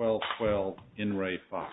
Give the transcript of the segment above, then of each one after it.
12-12 IN RE FOX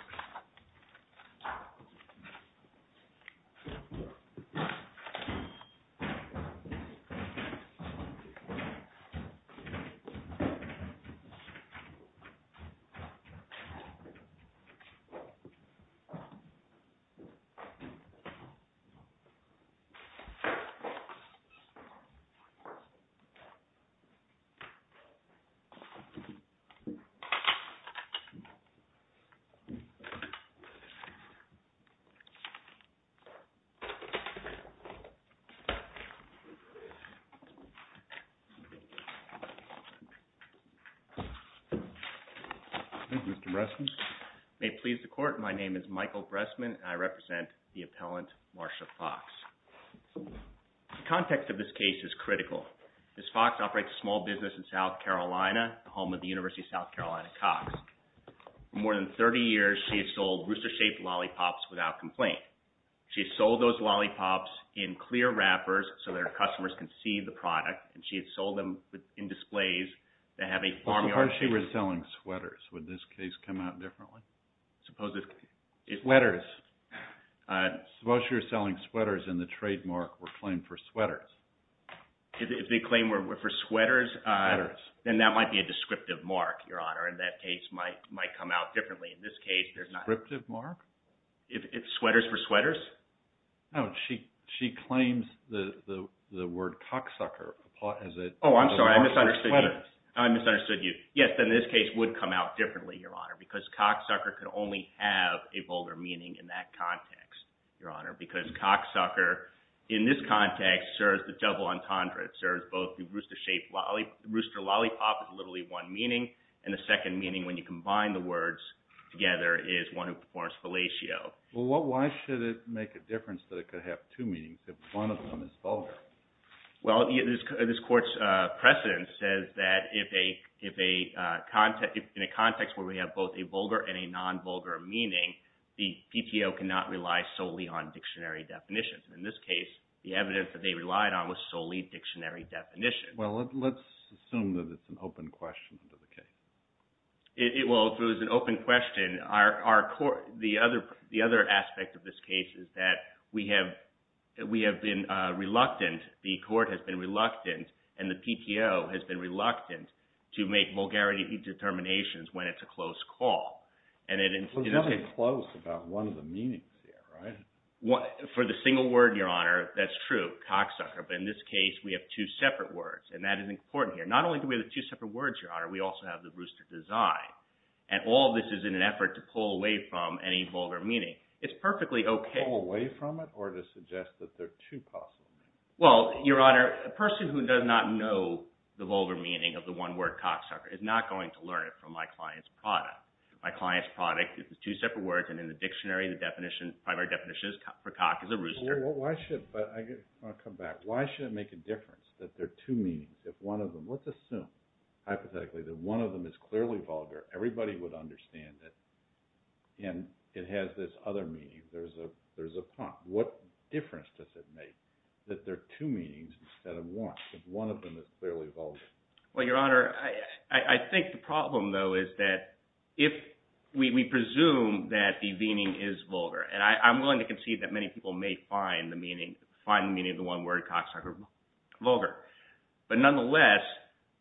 May it please the court, my name is Michael Bressman and I represent the appellant Marsha Fox. The context of this case is critical. Ms. Fox operates a small business in South Carolina, home of the University of South Carolina Cox. For more than 30 years, she has sold rooster-shaped lollipops without complaint. She has sold those lollipops in clear wrappers so that her customers can see the product and she has sold them in displays that have a farmyard. Suppose she was selling sweaters. Would this case come out differently? Suppose this case... Sweaters. Suppose she was selling sweaters and the trademark were claimed for sweaters. If they claim for sweaters, then that might be a descriptive mark, Your Honor, and that case might come out differently. In this case, there's not... Descriptive mark? If it's sweaters for sweaters? No, she claims the word cocksucker as a mark for sweaters. Oh, I'm sorry, I misunderstood you. I misunderstood you. Yes, then this case would come out differently, Your Honor, because cocksucker could only have a bolder meaning in that context, Your Honor, because cocksucker in this context serves the double entendre. It serves both the rooster-shaped lollipop, rooster lollipop is literally one meaning, and the second meaning when you combine the words together is one who performs fellatio. Well, why should it make a difference that it could have two meanings if one of them is vulgar? Well, this court's precedent says that if a... In a context where we have both a vulgar and a non-vulgar meaning, the PTO cannot rely solely on dictionary definitions. In this case, the evidence that they relied on was solely dictionary definitions. Well, let's assume that it's an open question to the case. Well, if it was an open question, the other aspect of this case is that we have been reluctant, the court has been reluctant, and the PTO has been reluctant to make vulgarity determinations when it's a close call. There's nothing close about one of the meanings here, right? For the single word, Your Honor, that's true, cocksucker, but in this case, we have two separate words, and that is important here. Not only do we have the two separate words, Your Honor, we also have the rooster design, and all this is in an effort to pull away from any vulgar meaning. It's perfectly okay... Pull away from it, or to suggest that there are two possible meanings? Well, Your Honor, a person who does not know the vulgar meaning of the one word cocksucker is not going to learn it from my client's product. My client's product is the two separate words, and in the dictionary, the primary definition for cock is a rooster. Well, I want to come back. Why should it make a difference that there are two meanings if one of them... Let's assume, hypothetically, that one of them is clearly vulgar. Everybody would understand it, and it has this other meaning. There's a prompt. What difference does it make that there are two meanings instead of one, if one of them is clearly vulgar? Well, Your Honor, I think the problem, though, is that if we presume that the meaning is vulgar, and I'm willing to concede that many people may find the meaning of the one word cocksucker vulgar, but nonetheless,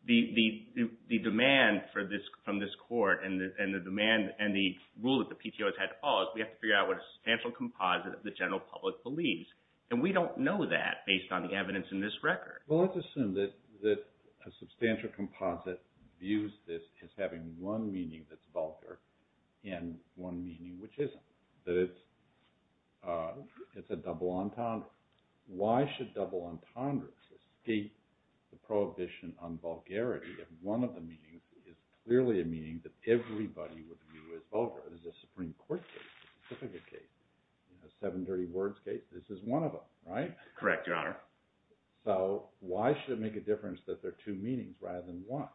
the demand from this Court and the rule that the PTO has had to follow is we have to figure out what a substantial composite of the general public believes, and we don't know that based on the evidence in this record. Well, let's assume that a substantial composite views this as having one meaning that's vulgar and one meaning which isn't, that it's a double entendre. Why should double entendres escape the prohibition on vulgarity if one of the meanings is clearly a meaning that everybody would view as vulgar? There's a Supreme Court case, a Pacifica case, a seven-dirty-words case. This is one of them, right? Correct, Your Honor. So, why should it make a difference that there are two meanings rather than one?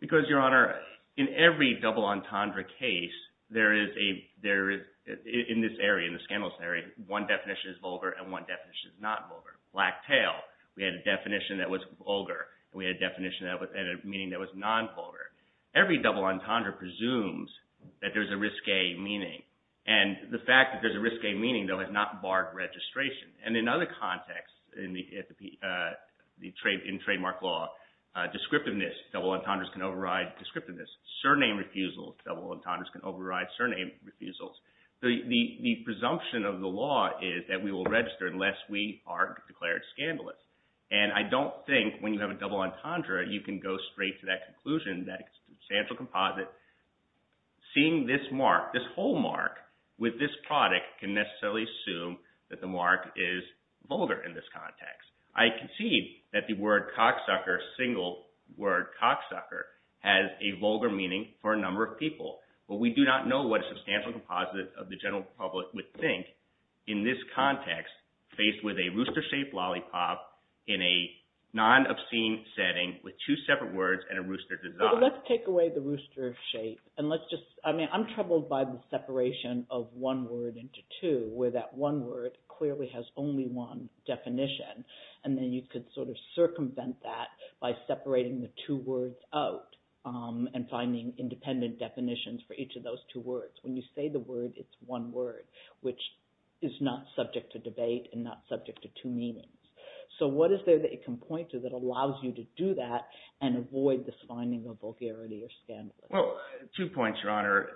Because, Your Honor, in every double entendre case, there is, in this area, in the scandalous area, one definition is vulgar and one definition is not vulgar. Black tail. We had a definition that was vulgar, and we had a definition and a meaning that was non-vulgar. Every double entendre presumes that there's a risque meaning, and the fact that there's a risque meaning, though, has not barred registration. And in other contexts, in trademark law, descriptiveness, double entendres can override descriptiveness. Surname refusals, double entendres can override surname refusals. The presumption of the law is that we will register unless we are declared scandalous. And I don't think, when you have a double entendre, you can go straight to that conclusion, that substantial composite. Seeing this mark, this whole mark, with this product can necessarily assume that the mark is vulgar in this context. I concede that the word cocksucker, single word cocksucker, has a vulgar meaning for a number of people. But we do not know what a substantial composite of the general public would think in this context, faced with a rooster-shaped lollipop in a non-obscene setting with two separate words and a rooster design. Let's take away the rooster shape. I'm troubled by the separation of one word into two, where that one word clearly has only one definition. And then you could sort of circumvent that by separating the two words out and finding independent definitions for each of those two words. When you say the word, it's one word, which is not subject to debate and not subject to two meanings. So what is there that it can point to that allows you to do that and avoid this finding of vulgarity or scandalous? Well, two points, Your Honor.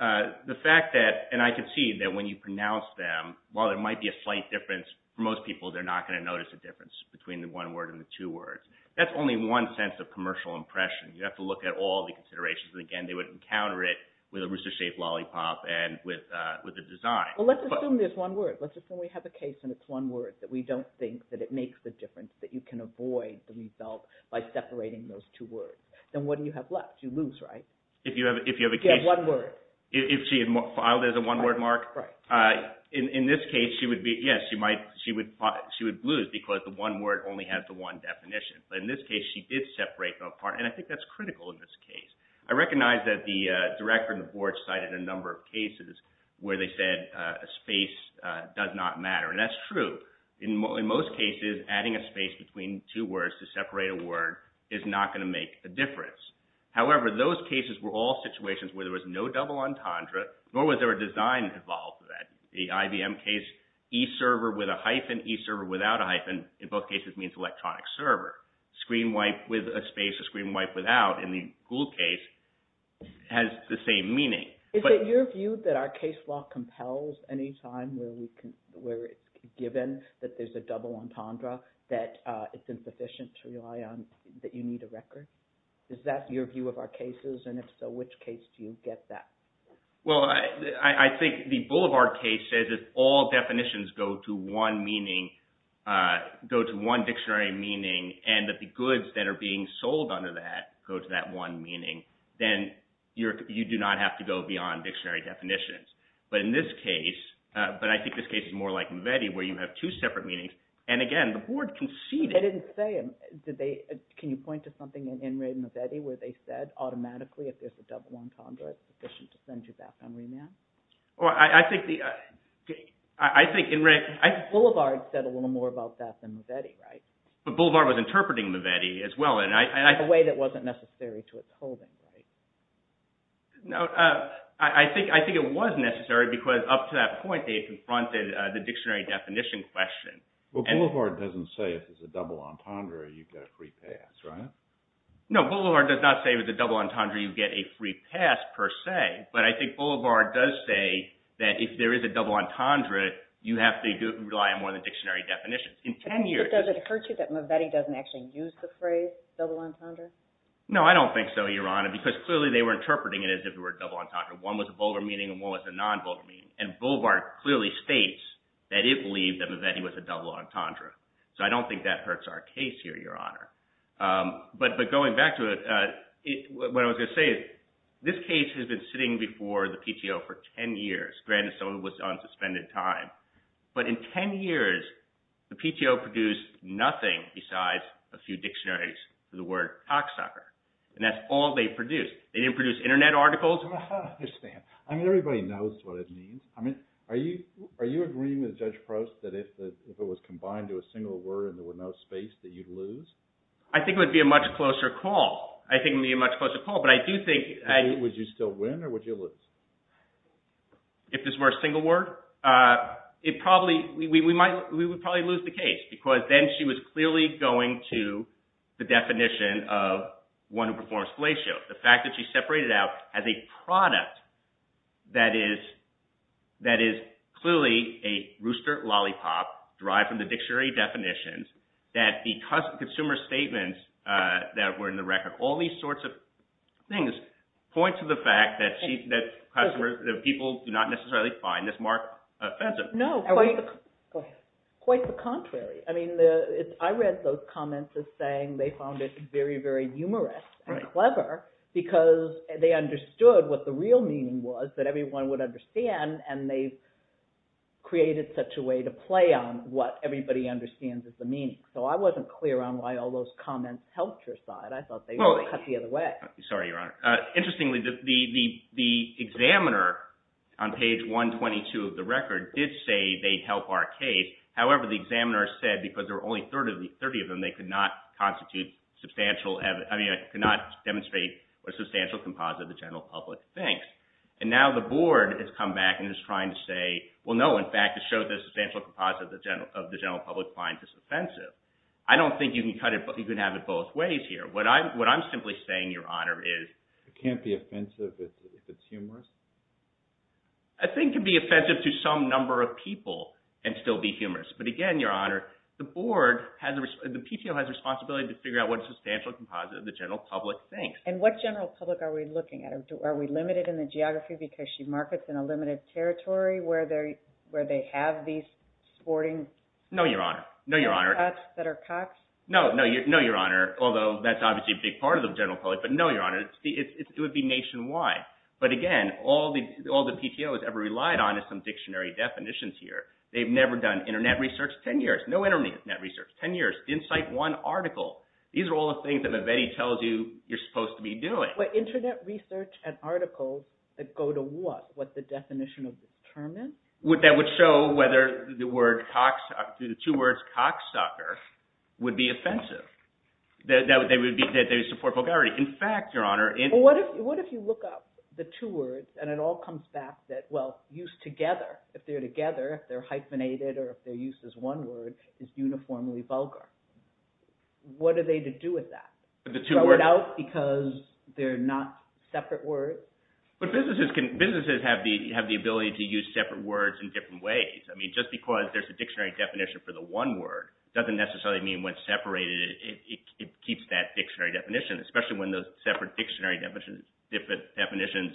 The fact that, and I concede that when you pronounce them, while there might be a slight difference, for most people they're not going to notice a difference between the one word and the two words. That's only one sense of commercial impression. You have to look at all the considerations. And again, they would encounter it with a rooster-shaped lollipop and with a design. Well, let's assume there's one word. Let's assume we have a case and it's one word, that we don't think that it makes a difference, that you can avoid the result by separating those two words. Then what do you have left? You lose, right? You have one word. If she had filed as a one word mark? Right. In this case, yes, she would lose because the one word only has the one definition. But in this case, she did separate them apart. And I think that's critical in this case. I recognize that the Director and the Board cited a number of cases where they said a space does not matter. And that's true. In most cases, adding a space between two words to separate a word is not going to make a difference. However, those cases were all situations where there was no double entendre nor was there a design involved with that. The IBM case, e-server with a hyphen, e-server without a hyphen, in both cases means electronic server. Screen wipe with a space or screen wipe without, in the Gould case, has the same meaning. Is it your view that our case law compels any time where it's given that there's a double entendre that it's insufficient to rely on that you need a record? Is that your view of our cases? And if so, which case do you get that? Well, I think the Boulevard case says if all definitions go to one meaning, go to one dictionary meaning and that the goods that are being sold under that go to that one meaning, then you do not have to go beyond dictionary definitions. But in this case, but I think this case is more like MVETI where you have two separate meanings and again, the board conceded. I didn't say, can you point to something in MVETI where they said automatically if there's a double entendre it's sufficient to send you back on remand? Well, I think Boulevard said a little more about that than MVETI, right? But Boulevard was interpreting MVETI as well in a way that wasn't necessary to its holding, right? No, I think it was necessary because up to that point they had confronted the dictionary definition question. Well, Boulevard doesn't say if there's a double entendre, you get a free pass, right? No, Boulevard does not say with a double entendre you get a free pass per se, but I think Boulevard does say that if there is a double entendre you have to rely more on the dictionary definition. In 10 years... Does it occur to you that MVETI doesn't actually use the phrase double entendre? No, I don't think so, Your Honor, because clearly they were interpreting it as if it were a double entendre. One was a vulgar meaning and one was a non-vulgar meaning, and Boulevard clearly states that it believed that MVETI was a double entendre. So I don't think that hurts our case here, Your Honor. But going back to it, what I was going to say is this case has been sitting before the PTO for 10 years, granted some of it was on suspended time, but in 10 years the PTO produced nothing besides a few dictionaries for the word cocksucker, and that's all they produced. They didn't produce internet articles I don't understand. I mean, everybody knows what it means. I mean, are you agreeing with Judge Proust that if it was combined to a single word and there was no space, that you'd lose? I think it would be a much closer call. I think it would be a much closer call, but I do think Would you still win, or would you lose? If this were a single word? It probably we would probably lose the case because then she was clearly going to the definition of one who performs fellatio. The fact that she separated out as a product that is clearly a rooster lollipop derived from the dictionary definitions that the consumer statements that were in the record all these sorts of things point to the fact that people do not necessarily find this more offensive. Quite the contrary. I mean, I read those comments as saying they found it very humorous and clever because they understood what the real meaning was that everyone would understand and they created such a way to play on what everybody understands is the meaning. So I wasn't clear on why all those comments helped your side. I thought they were cut the other way. Sorry, Your Honor. Interestingly the examiner on page 122 of the record did say they'd help our case. However, the examiner said because there were only 30 of them, they could not demonstrate a substantial composite of the general public thinks. And now the board has come back and is trying to say, well no, in fact it shows a substantial composite of the general public finds this offensive. I don't think you can have it both ways here. What I'm simply saying, Your Honor, is it can't be offensive if it's humorous? I think it can be offensive to some number of people and still be humorous. But again, Your Honor, the board the PTO has a responsibility to figure out what a substantial composite of the general public thinks. And what general public are we looking at? Are we limited in the geography because she markets in a limited territory where they have these sporting... No, Your Honor. No, Your Honor. Cots that are cocks? No, Your Honor, although that's obviously a big part of the general public, but no, Your Honor. It would be nationwide. But again, all the PTO has ever relied on is some dictionary definitions here. They've never done internet research 10 years. No internet research. 10 years. Didn't cite one article. These are all the things that Babetti tells you you're supposed to be doing. But internet research and articles that go to what? What's the definition of determined? That would show whether the word cocks... the two words cocksucker would be offensive. That they support vulgarity. In fact, Your Honor... What if you look up the two words and it all comes back that, well, used together. If they're together, if they're hyphenated, or if they're used as one word, it's uniformly vulgar. What are they to do with that? Throw it out because they're not separate words? But businesses have the ability to use separate words in different ways. I mean, just because there's a dictionary definition for the one word doesn't necessarily mean when separated it keeps that dictionary definition. Especially when those separate dictionary definitions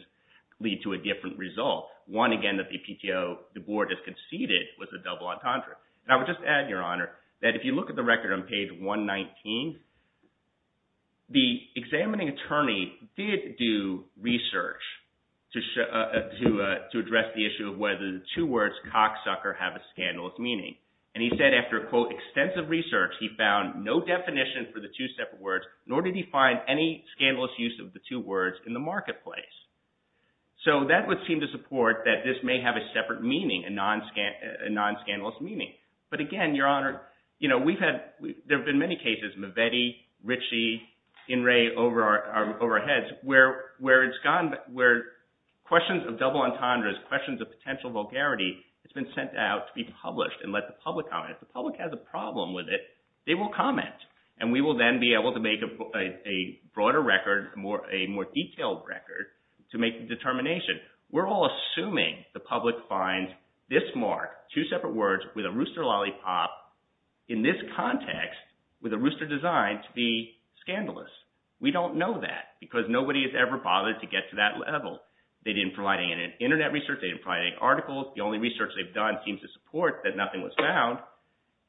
lead to a different result. One, again, that the PTO, the board has conceded was a double entendre. And I would just add, Your Honor, that if you look at the record on page 119 the examining attorney did do research to address the issue of whether the two words cocksucker have a scandalous meaning. And he said after quote, extensive research, he found no definition for the two separate words nor did he find any scandalous use of the two words in the marketplace. So that would seem to support that this may have a separate meaning a non-scandalous meaning. But again, Your Honor, there have been many cases Mavetti, Ritchie, In re over our heads where it's gone, where questions of double entendres, questions of potential vulgarity, it's been sent out to be published and let the public comment. If the public has a problem with it, they will comment. And we will then be able to make a broader record a more detailed record to make the determination. We're all assuming the public finds this mark, two separate words with a rooster lollipop in this context with a rooster designed to be scandalous. We don't know that because nobody has ever bothered to get to that level. They didn't provide any internet research, they didn't provide any articles. The only research they've done seems to support that nothing was found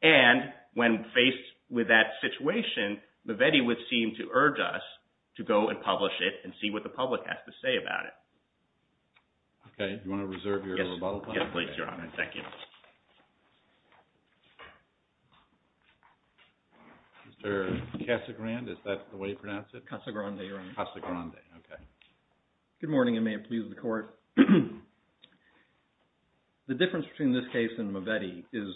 and when faced with that situation, Mavetti would seem to urge us to go and publish it and see what the public has to say about it. Okay. Do you want to reserve your rebuttal time? Yes, Your Honor. Thank you. Mr. Casagrande, is that the way you pronounce it? Casagrande, Your Honor. Good morning and may it please the Court. The difference between this case and Mavetti is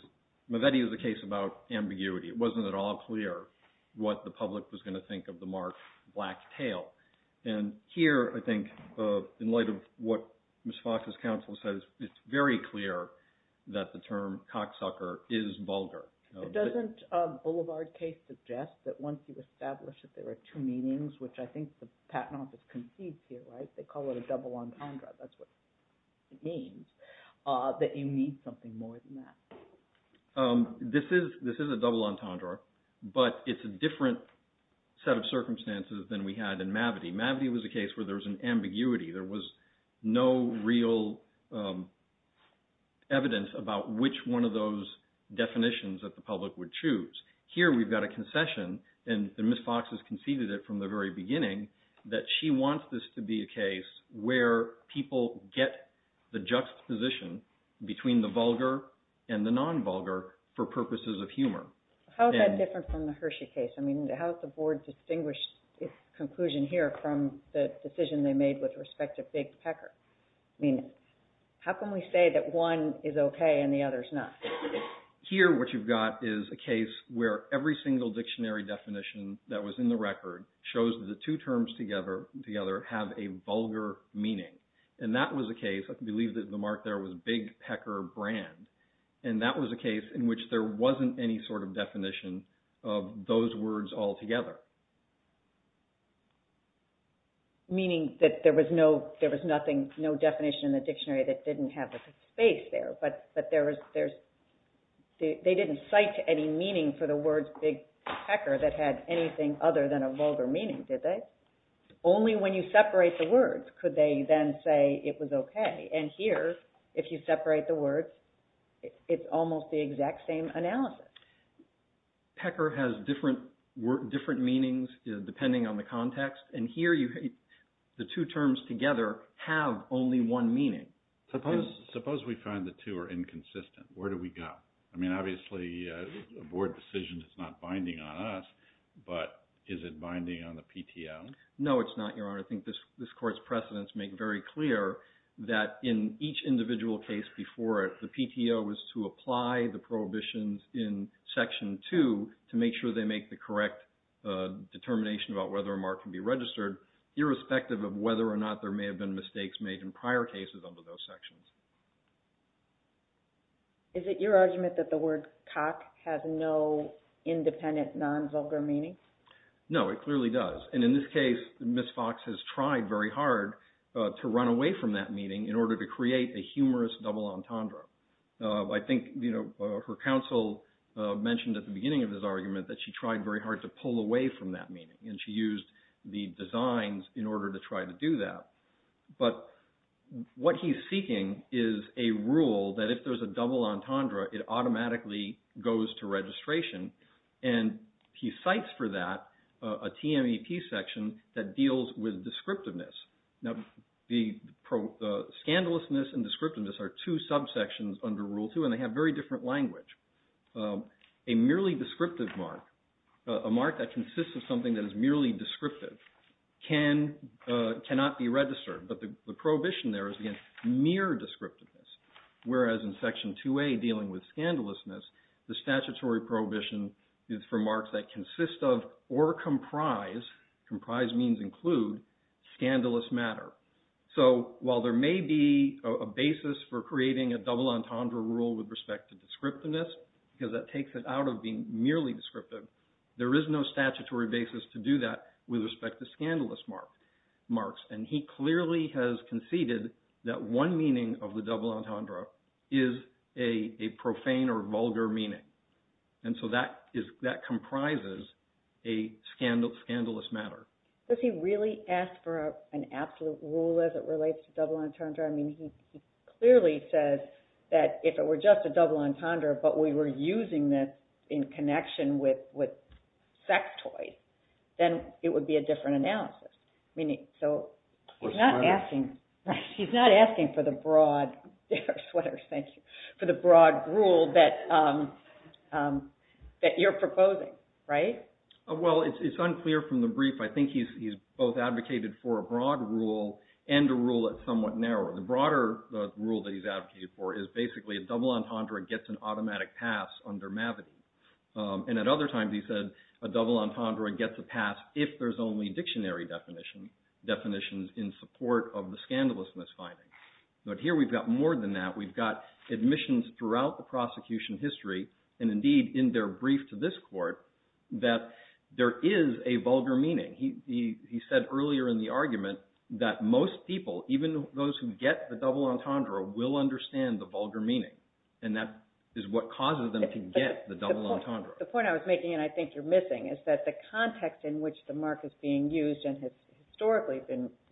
Mavetti is a case about ambiguity. It wasn't at all clear what the public was going to think of the mark black tail. Here, I think, in light of what Ms. Fox's counsel says, it's very clear that the term cocksucker is vulgar. Doesn't Boulevard case suggest that once you establish that there are two meanings, which I think the Patent Office concedes here, they call it a double entendre. That's what it means. That you need something more than that. This is a double entendre, but it's a different set of circumstances than we had in Mavetti. Mavetti was a case where there was an ambiguity. There was no real evidence about which one of those definitions that the public would choose. Here, we've got a concession, and Ms. Fox has conceded it from the very beginning that she wants this to be a case where people get the juxtaposition between the vulgar and the non-vulgar for purposes of humor. How is that different from the Hershey case? How has the Board distinguished its conclusion here from the decision they made with respect to Big Pecker? How can we say that one is okay and the other is not? Here, what you've got is a case where every single dictionary definition that was in the record shows that the two terms together have a vulgar meaning. And that was a case, I believe the mark there was Big Pecker brand, and that was a case in which there wasn't any sort of definition of those words altogether. Meaning that there was no definition in the dictionary that didn't have a space there, but they didn't cite any meaning for the words Big Pecker that had anything other than a vulgar meaning, did they? Only when you separate the words could they then say it was okay. And here, if you separate the words, it's almost the exact same analysis. Pecker has different meanings depending on the context, and here the two terms together have only one meaning. Suppose we find the two are inconsistent. Where do we go? I mean, obviously a Board decision is not binding on us, but is it binding on the PTO? No, it's not, Your Honor. I think this Court's in each individual case before it, the PTO is to apply the prohibitions in Section 2 to make sure they make the correct determination about whether a mark can be registered, irrespective of whether or not there may have been mistakes made in prior cases under those sections. Is it your argument that the word cock has no independent non-vulgar meaning? No, it clearly does, and in this case Ms. Fox has tried very hard to run away from that meaning in order to create a humorous double entendre. I think, you know, her counsel mentioned at the beginning of this argument that she tried very hard to pull away from that meaning, and she used the designs in order to try to do that, but what he's seeking is a rule that if there's a double entendre, it automatically goes to registration, and he cites for that a TMEP section that the scandalousness and descriptiveness are two subsections under Rule 2, and they have very different language. A merely descriptive mark, a mark that consists of something that is merely descriptive cannot be registered, but the prohibition there is, again, mere descriptiveness, whereas in Section 2A dealing with scandalousness, the statutory prohibition is for marks that consist of or comprise comprise means include scandalous matter. So while there may be a basis for creating a double entendre rule with respect to descriptiveness because that takes it out of being merely descriptive, there is no statutory basis to do that with respect to scandalous marks, and he clearly has conceded that one meaning of the double entendre is a profane or vulgar meaning, and so that comprises a scandalous matter. Does he really ask for an absolute rule as it relates to double entendre? I mean, he clearly says that if it were just a double entendre, but we were using this in connection with sectoid, then it would be a different analysis. Meaning, so he's not asking for the broad rule that you're proposing, right? Well, it's unclear from the brief. I think he's both advocated for a broad rule and a rule that's somewhat narrower. The broader rule that he's advocated for is basically a double entendre gets an automatic pass under Mavity, and at other times he said a double entendre gets a pass if there's only dictionary definitions in support of the scandalous misfinding. But here we've got more than that. We've got admissions throughout the prosecution history, and indeed in their brief to this court, that there is a vulgar meaning. He said earlier in the argument that most people, even those who get the double entendre, will understand the vulgar meaning. And that is what causes them to get the double entendre. The point I was making, and I think you're missing, is that the context in which the mark is being used and has historically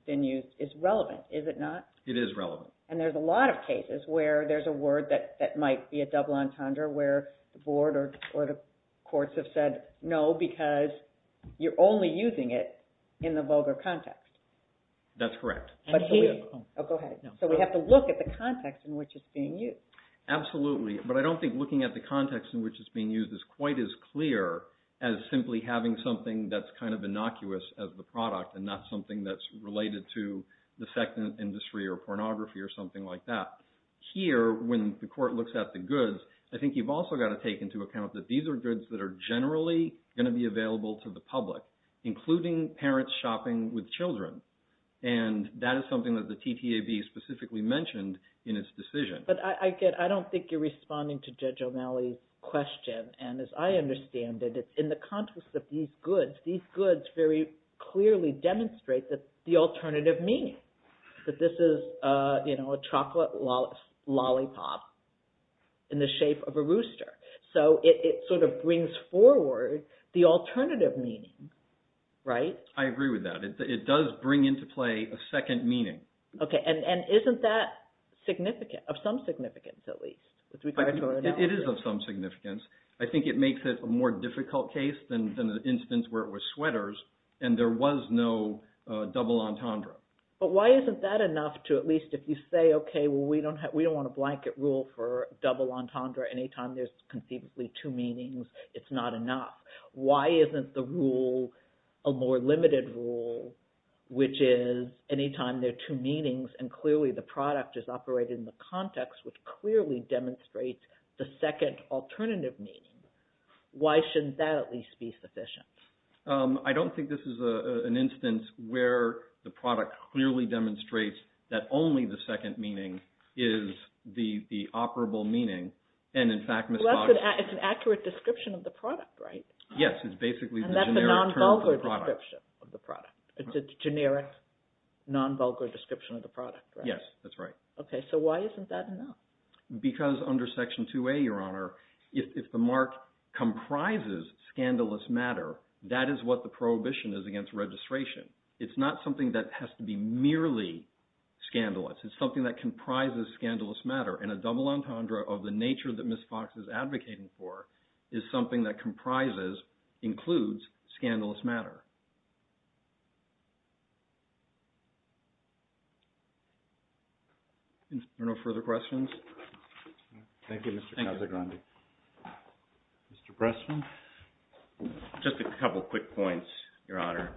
been used is relevant, is it not? It is relevant. And there's a lot of cases where there's a word that might be a double entendre where the board or the courts have said no because you're only using it in the vulgar context. That's correct. So we have to look at the context in which it's being used. Absolutely. But I don't think looking at the context in which it's being used is quite as clear as simply having something that's kind of innocuous as the product and not something that's related to the sex industry or pornography or something like that. Here, when the court looks at the goods, I think you've also got to take into account that these are goods that are generally going to be available to the public, including parents shopping with children. And that is something that the TTAB specifically mentioned in its decision. But I don't think you're responding to Judge O'Malley's question. And as I understand it, it's in the context of these goods. These goods very clearly demonstrate the alternative meaning. That this is a chocolate lollipop in the shape of a rooster. So it sort of brings forward the alternative meaning. Right? I agree with that. It does bring into play a second meaning. And isn't that significant? Of some significance, at least. It is of some significance. I think it makes it a more difficult case than the instance where it was sweaters and there was no double entendre. But why isn't that enough to at least if you say, okay, well we don't want a blanket rule for double entendre anytime there's conceivably two meanings. It's not enough. Why isn't the rule a more limited rule which is anytime there are two meanings and clearly the product is operated in the context which clearly demonstrates the second alternative meaning. Why shouldn't that at least be sufficient? I don't think this is an example where the product clearly demonstrates that only the second meaning is the operable meaning and in fact... It's an accurate description of the product, right? Yes, it's basically... And that's a non-vulgar description of the product. It's a generic, non-vulgar description of the product, right? Yes, that's right. So why isn't that enough? Because under Section 2A, Your Honor, if the mark comprises scandalous matter, that is what the prohibition is against registration. It's not something that has to be merely scandalous. It's something that comprises scandalous matter and a double entendre of the nature that Ms. Fox is advocating for is something that comprises, includes, scandalous matter. Are there no further questions? Thank you, Mr. Casagrande. Mr. Pressman? Just a couple quick points, Your Honor.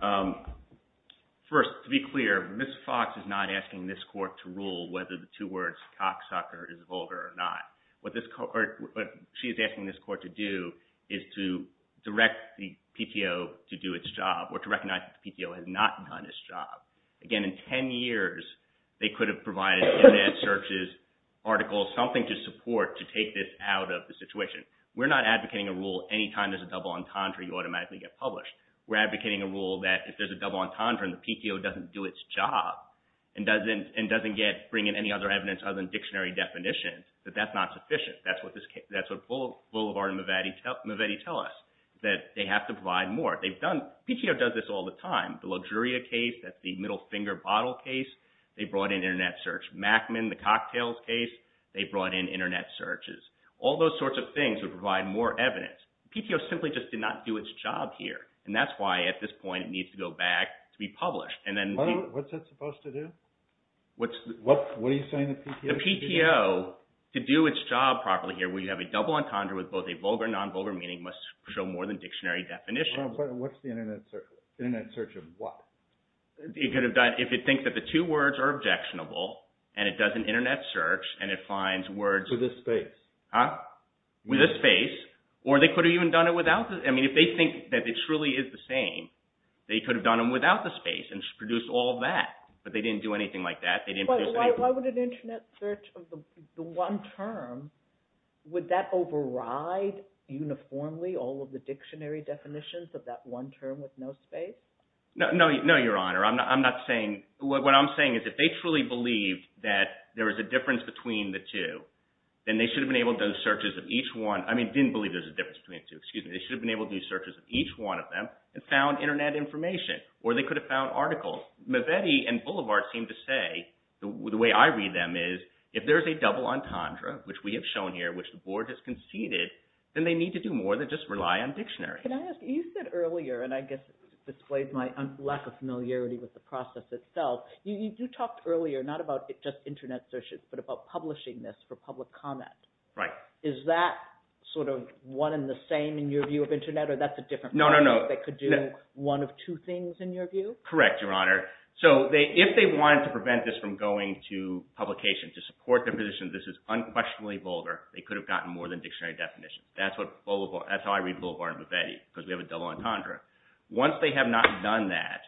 First, to be clear, Ms. Fox is not asking this Court to rule whether the two words cocksucker is vulgar or not. What she is asking this Court to do is to direct the PTO to do its job or to recognize that the PTO has not done its job. Again, in 10 years, they could have provided search's articles, something to support to take this out of the situation. We're not advocating a rule, any time there's a double entendre, you automatically get published. We're advocating a rule that if there's a double entendre and the PTO doesn't do its job and doesn't bring in any other evidence other than dictionary definitions, that that's not sufficient. That's what Boulevard and Mavetti tell us, that they have to provide more. PTO does this all the time. The Luxuria case, that's the middle finger bottle case, they brought in internet search. Mackman, the cocktails case, they brought in internet searches. All those sorts of things would provide more evidence. PTO simply just did not do its job here, and that's why at this point it needs to go back to be published. What's that supposed to do? What are you saying? The PTO, to do its job properly here where you have a double entendre with both a vulgar and non-vulgar meaning must show more than dictionary definitions. What's the internet search of what? If it thinks that the two words are objectionable and it does an internet search and it finds words... With a space. Or they could have even done it without. If they think that it truly is the same, they could have done it without the space and produced all of that. But they didn't do anything like that. Why would an internet search of the one term, would that override uniformly all of the dictionary definitions of that one term with no space? No, Your Honor. What I'm saying is if they truly believed that there was a difference between the two, then they should have been able to do searches of each one. They should have been able to do searches of each one of them and found internet information. Or they could have found articles. Mavetti and Boulevard seem to say, the way I read them is, if there's a double entendre, which we have shown here, which the Board has conceded, then they need to do more than just rely on dictionary. Can I ask, you said earlier, and I guess it displays my lack of familiarity with the process itself, you talked earlier, not about just internet searches, but about publishing this for public comment. Right. Is that sort of one and the same in your view of internet, or that's a different point? No, no, no. They could do one of two things in your view? Correct, Your Honor. So if they wanted to prevent this from going to publication to support their position that this is unquestionably vulgar, they could have gotten more than dictionary definitions. That's how I read Boulevard and Mavetti, because we have a double entendre. Once they have not done that,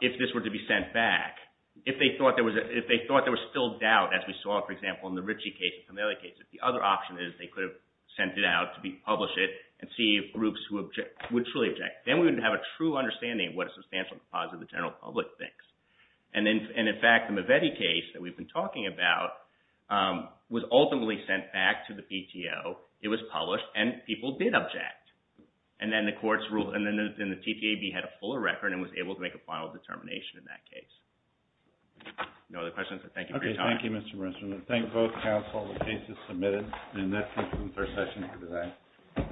if this were to be sent back, if they thought there was still doubt, as we saw, for example, in the Ricci case and some other cases, the other option is they could have sent it out to publish it and see if groups would truly object. Then we would have a true understanding of what a substantial composite of the general public thinks. And in fact, the Mavetti case that we've been talking about was ultimately sent back to the PTO, it was published, and people did object. And then the courts ruled, and the TTAB had a fuller record and was able to make a final determination in that case. No other questions? Thank you for your time. Okay, thank you, Mr. Rensselaer. Thank both counsel and the cases submitted. And that concludes our session for today.